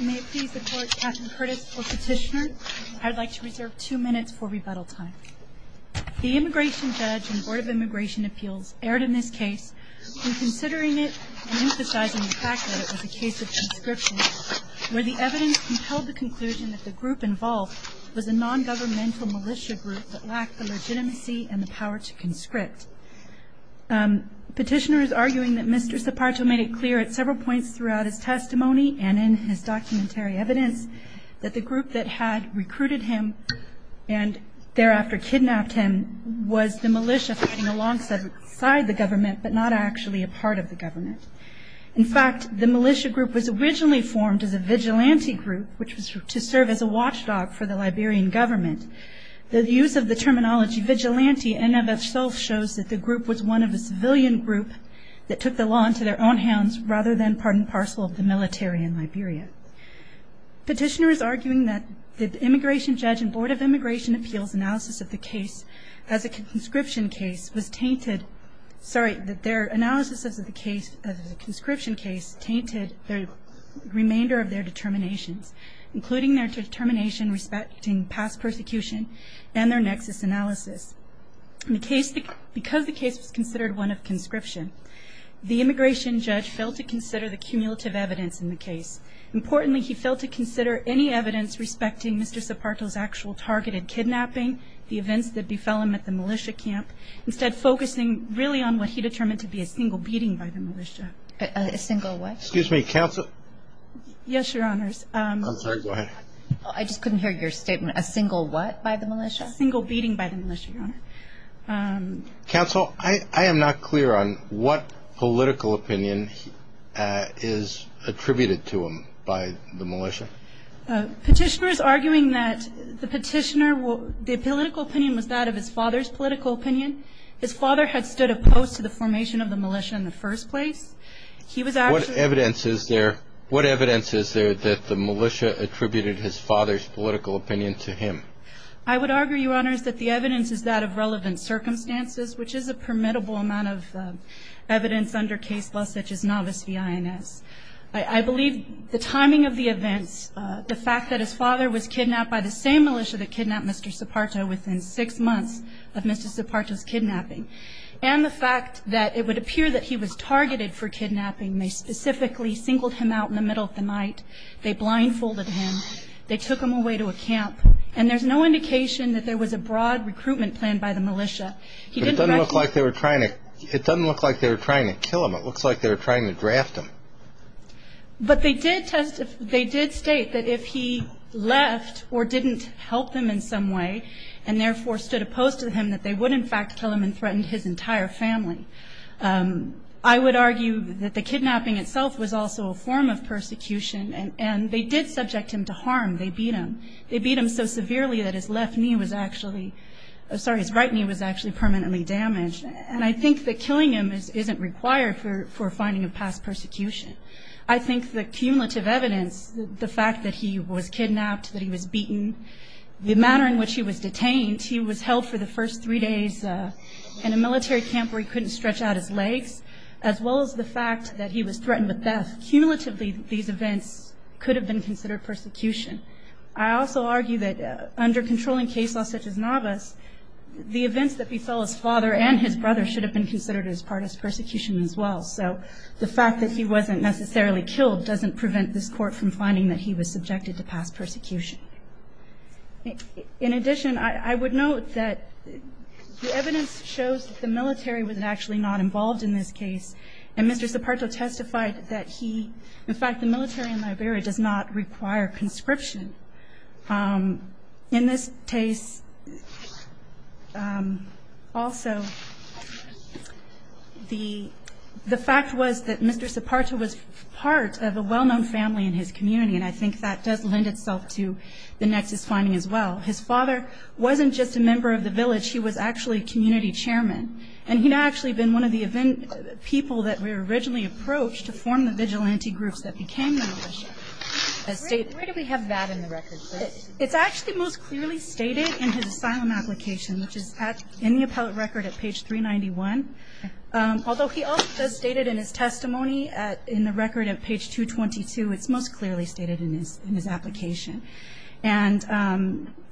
May it please the Court, Captain Curtis for Petitioner. I'd like to reserve two minutes for rebuttal time. The immigration judge in the Board of Immigration Appeals erred in this case, in considering it and emphasizing the fact that it was a case of conscription, where the evidence compelled the conclusion that the group involved was a non-governmental militia group Petitioner is arguing that Mr. Saparto made it clear at several points throughout his testimony and in his documentary evidence that the group that had recruited him and thereafter kidnapped him was the militia working alongside the government, but not actually a part of the government. In fact, the militia group was originally formed as a vigilante group, which was to serve as a watchdog for the Liberian government. The use of the terminology vigilante in and of itself shows that the group was one of a civilian group that took the law into their own hands rather than part and parcel of the military in Liberia. Petitioner is arguing that the immigration judge in Board of Immigration Appeals analysis of the case as a conscription case was tainted, sorry, that their analysis of the case as a conscription case tainted the remainder of their determinations, including their determination respecting past persecution and their nexus analysis. Because the case was considered one of conscription, the immigration judge failed to consider the cumulative evidence in the case. Importantly, he failed to consider any evidence respecting Mr. Saparto's actual targeted kidnapping, the events that befell him at the militia camp, instead focusing really on what he determined to be a single beating by the militia. A single what? Excuse me, counsel? Yes, Your Honors. I'm sorry, go ahead. I just couldn't hear your statement. A single what by the militia? A single beating by the militia, Your Honor. Counsel, I am not clear on what political opinion is attributed to him by the militia. Petitioner is arguing that the petitioner, the political opinion was that of his father's political opinion. His father had stood opposed to the formation of the militia in the first place. What evidence is there that the militia attributed his father's political opinion to him? I would argue, Your Honors, that the evidence is that of relevant circumstances, which is a permittable amount of evidence under case law such as Novice v. INS. I believe the timing of the events, the fact that his father was kidnapped by the same militia that kidnapped Mr. Saparto within six months of Mr. Saparto's kidnapping, and the fact that it would appear that he was targeted for kidnapping. They specifically singled him out in the middle of the night. They blindfolded him. They took him away to a camp. And there's no indication that there was a broad recruitment plan by the militia. It doesn't look like they were trying to kill him. It looks like they were trying to draft him. But they did state that if he left or didn't help them in some way and therefore stood opposed to him, that they would, in fact, kill him and threaten his entire family. I would argue that the kidnapping itself was also a form of persecution, and they did subject him to harm. They beat him. They beat him so severely that his left knee was actually – sorry, his right knee was actually permanently damaged. And I think that killing him isn't required for finding a past persecution. I think the cumulative evidence, the fact that he was kidnapped, that he was beaten, the manner in which he was detained, he was held for the first three days in a military camp where he couldn't stretch out his legs, as well as the fact that he was threatened with death. Cumulatively, these events could have been considered persecution. I also argue that under controlling case law such as Navas, the events that befell his father and his brother should have been considered as part of persecution as well. So the fact that he wasn't necessarily killed doesn't prevent this court from finding that he was subjected to past persecution. In addition, I would note that the evidence shows that the military was actually not involved in this case, and Mr. Zaparto testified that he – in fact, the military in Liberia does not require conscription. In this case, also, the fact was that Mr. Zaparto was part of a well-known family in his community, and I think that does lend itself to the next finding as well. His father wasn't just a member of the village. He was actually a community chairman, and he had actually been one of the people that were originally approached to form the vigilante groups that became the militia. Where do we have that in the record? It's actually most clearly stated in his asylum application, which is in the appellate record at page 391. Although he also stated in his testimony in the record at page 222, it's most clearly stated in his application. And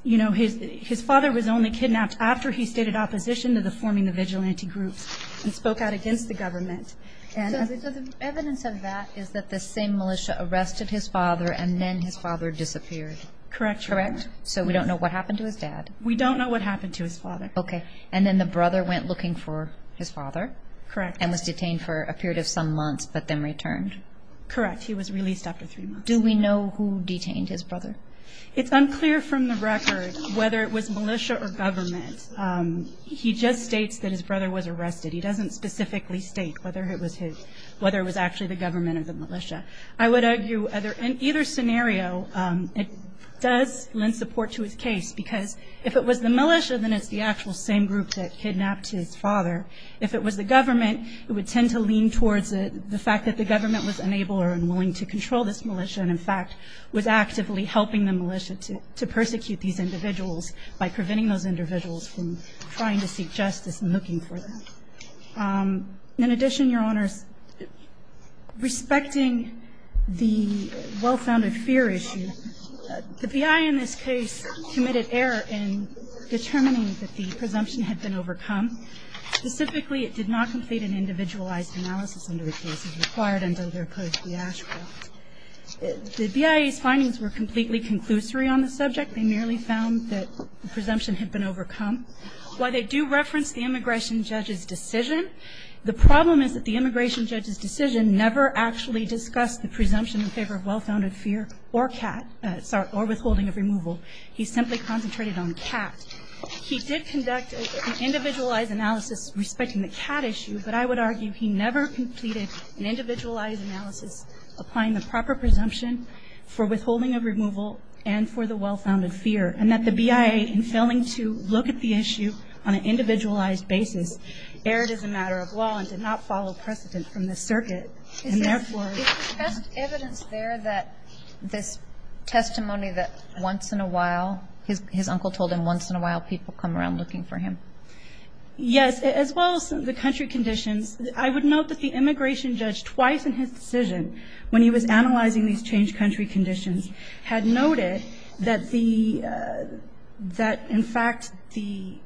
his father was only kidnapped after he stated opposition to forming the vigilante groups and spoke out against the government. So the evidence of that is that the same militia arrested his father, and then his father disappeared. Correct. Correct? So we don't know what happened to his dad. We don't know what happened to his father. Okay. And then the brother went looking for his father? Correct. And was detained for a period of some months, but then returned? Correct. He was released after three months. Do we know who detained his brother? It's unclear from the record whether it was militia or government. He just states that his brother was arrested. He doesn't specifically state whether it was actually the government or the militia. I would argue in either scenario, it does lend support to his case, because if it was the militia, then it's the actual same group that kidnapped his father. If it was the government, it would tend to lean towards the fact that the government was unable or unwilling to control this militia, and in fact was actively helping the militia to persecute these individuals by preventing those individuals from trying to seek justice and looking for them. In addition, Your Honors, respecting the well-founded fear issue, the BIA in this case committed error in determining that the presumption had been overcome. Specifically, it did not complete an individualized analysis under the cases required under their Code of the Asheville Act. The BIA's findings were completely conclusory on the subject. They merely found that the presumption had been overcome. While they do reference the immigration judge's decision, the problem is that the immigration judge's decision never actually discussed the presumption in favor of well-founded fear or withholding of removal. He simply concentrated on cat. He did conduct an individualized analysis respecting the cat issue, but I would argue he never completed an individualized analysis applying the proper presumption for withholding of removal and for the well-founded fear, and that the BIA, in failing to look at the issue on an individualized basis, erred as a matter of law and did not follow precedent from the circuit. Is there evidence there that this testimony that once in a while, his uncle told him once in a while people come around looking for him? Yes, as well as the country conditions. I would note that the immigration judge, twice in his decision, when he was analyzing these changed country conditions, had noted that, in fact, the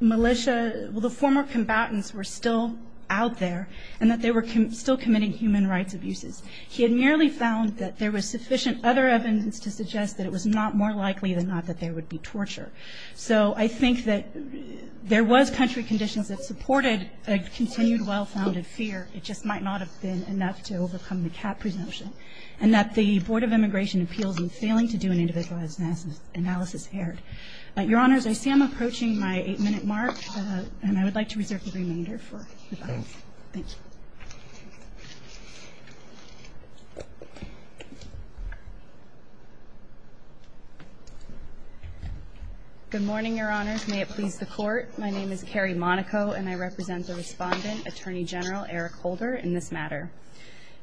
militia, the former combatants were still out there and that they were still committing human rights abuses. He had merely found that there was sufficient other evidence to suggest that it was not more likely than not that there would be torture. So I think that there was country conditions that supported a continued well-founded fear. It just might not have been enough to overcome the cat presumption, and that the Board of Immigration appeals in failing to do an individualized analysis erred. Your Honors, I see I'm approaching my eight-minute mark, and I would like to reserve the remainder for the audience. Thank you. Good morning, Your Honors. May it please the Court. My name is Carrie Monaco, and I represent the respondent, Attorney General Eric Holder, in this matter.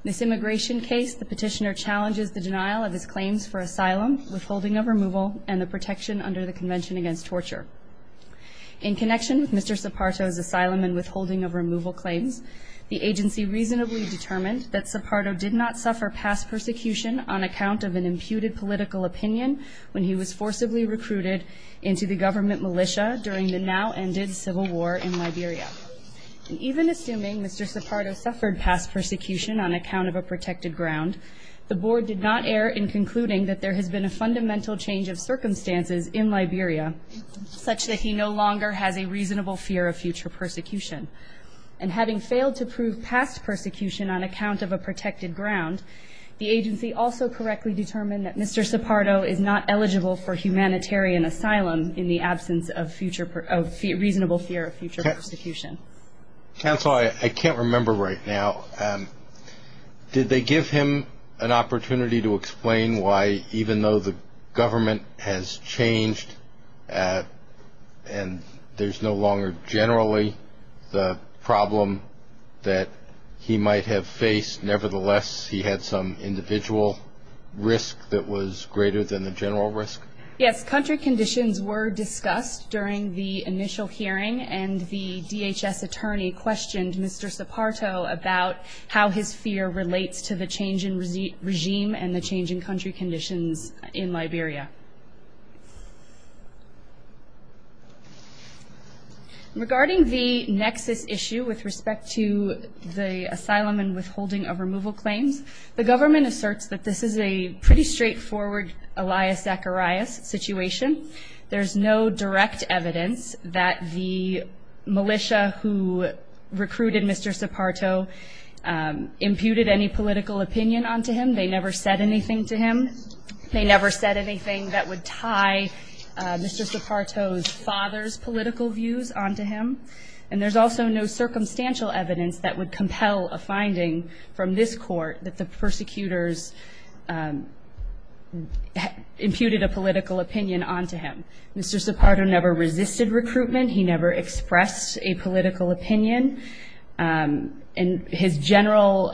In this immigration case, the petitioner challenges the denial of his claims for asylum, withholding of removal, and the protection under the Convention Against Torture. In connection with Mr. Soparto's asylum and withholding of removal claims, the agency reasonably determined that Soparto did not suffer past persecution on account of an imputed political opinion when he was forcibly recruited into the government militia during the now-ended civil war in Liberia. Even assuming Mr. Soparto suffered past persecution on account of a protected ground, the Board did not err in concluding that there has been a fundamental change of circumstances in Liberia such that he no longer has a reasonable fear of future persecution. And having failed to prove past persecution on account of a protected ground, the agency also correctly determined that Mr. Soparto is not eligible for humanitarian asylum in the absence of reasonable fear of future persecution. Counsel, I can't remember right now. Did they give him an opportunity to explain why, even though the government has changed and there's no longer generally the problem that he might have faced, nevertheless he had some individual risk that was greater than the general risk? Yes. Country conditions were discussed during the initial hearing, and the DHS attorney questioned Mr. Soparto about how his fear relates to the change in regime and the change in country conditions in Liberia. Regarding the nexus issue with respect to the asylum and withholding of removal claims, the government asserts that this is a pretty straightforward Elias Zacharias situation. There's no direct evidence that the militia who recruited Mr. Soparto imputed any political opinion onto him. They never said anything to him. They never said anything that would tie Mr. Soparto's father's political views onto him. And there's also no circumstantial evidence that would compel a finding from this court that the persecutors imputed a political opinion onto him. Mr. Soparto never resisted recruitment. He never expressed a political opinion. And his general,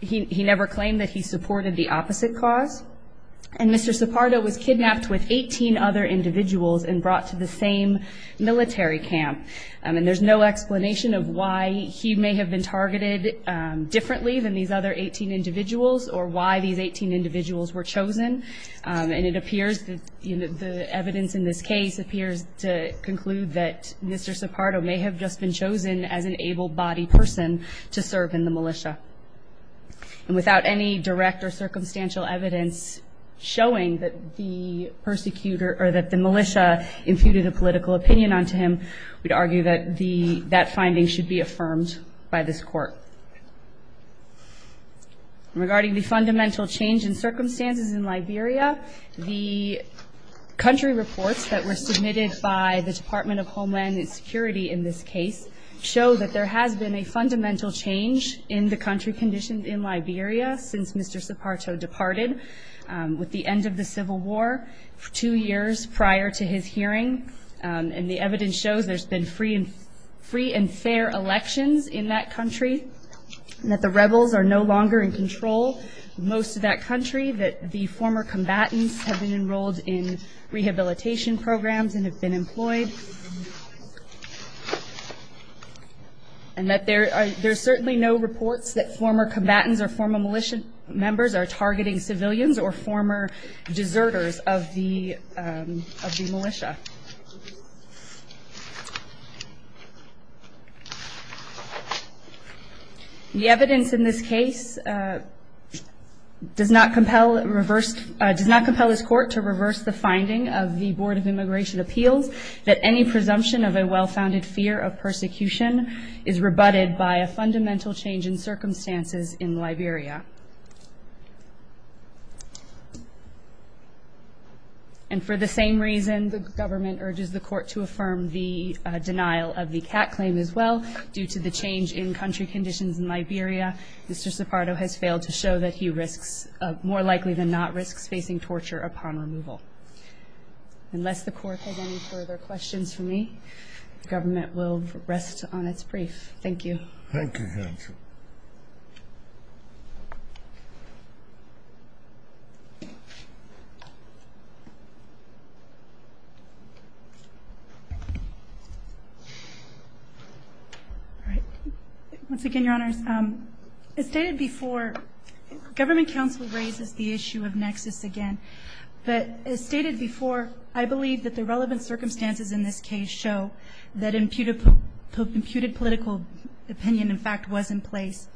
he never claimed that he supported the opposite cause. And Mr. Soparto was kidnapped with 18 other individuals and brought to the same military camp. And there's no explanation of why he may have been targeted differently than these other 18 individuals or why these 18 individuals were chosen. And it appears that the evidence in this case appears to conclude that Mr. Soparto may have just been chosen as an able-bodied person to serve in the militia. And without any direct or circumstantial evidence showing that the militia imputed a political opinion onto him, we'd argue that that finding should be affirmed by this court. Regarding the fundamental change in circumstances in Liberia, the country reports that were submitted by the Department of Homeland Security in this case show that there has been a fundamental change in the country conditions in Liberia since Mr. Soparto departed with the end of the Civil War two years prior to his hearing. And the evidence shows there's been free and fair elections in that country, and that the rebels are no longer in control of most of that country, that the former combatants have been enrolled in rehabilitation programs and have been employed, and that there are certainly no reports that former combatants or former militia members are targeting civilians or former deserters of the militia. The evidence in this case does not compel this court to reverse the finding of the Board of Immigration Appeals that any presumption of a well-founded fear of persecution is rebutted by a fundamental change in circumstances in Liberia. And for the same reason the government urges the court to affirm the denial of the CAT claim as well, due to the change in country conditions in Liberia, Mr. Soparto has failed to show that he risks, more likely than not, risks facing torture upon removal. Unless the court has any further questions for me, the government will rest on its brief. Thank you. Thank you, counsel. Once again, Your Honors, as stated before, government counsel raises the issue of nexus again, but as stated before, I believe that the relevant circumstances in this case show that imputed political opinion, in fact, was in place.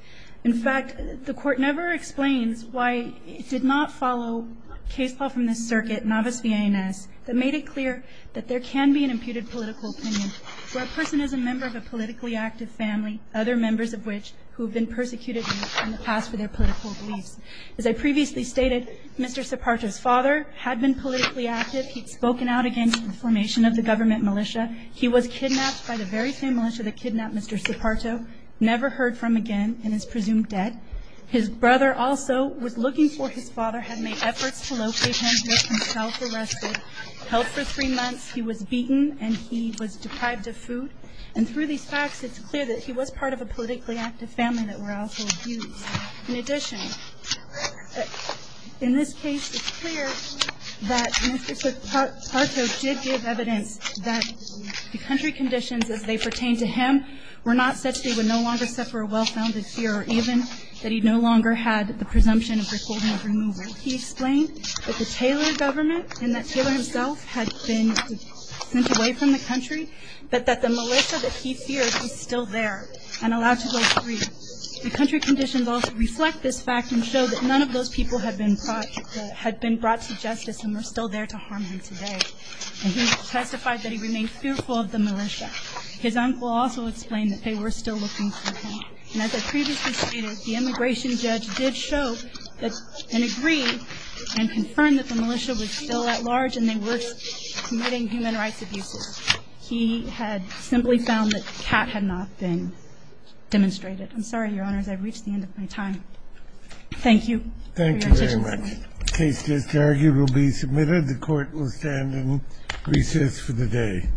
In fact, the court never explains why it did not follow case law from the circuit, novice v. INS, that made it clear that there can be an imputed political opinion where a person is a member of a politically active family, other members of which who have been persecuted in the past for their political beliefs. As I previously stated, Mr. Soparto's father had been politically active. He had spoken out against the formation of the government militia. He was kidnapped by the very same militia that kidnapped Mr. Soparto, never heard from again and is presumed dead. His brother also was looking for his father, had made efforts to locate him, made himself arrested, held for three months. He was beaten and he was deprived of food. And through these facts, it's clear that he was part of a politically active family that were also abused. In addition, in this case, it's clear that Mr. Soparto did give evidence that the country conditions as they pertain to him were not such that he would no longer suffer a well-founded fear or even that he no longer had the presumption of recording of removal. He explained that the Taylor government and that Taylor himself had been sent away from the country, but that the militia that he feared was still there and allowed to go free. The country conditions also reflect this fact and show that none of those people had been brought to justice and were still there to harm him today. And he testified that he remained fearful of the militia. His uncle also explained that they were still looking for him. And as I previously stated, the immigration judge did show and agree and confirm that the militia was still at large and they were committing human rights abuses. He had simply found that the cat had not been demonstrated. I'm sorry, Your Honors. I've reached the end of my time. Thank you. Thank you very much. The case just argued will be submitted. The Court will stand and recess for the day.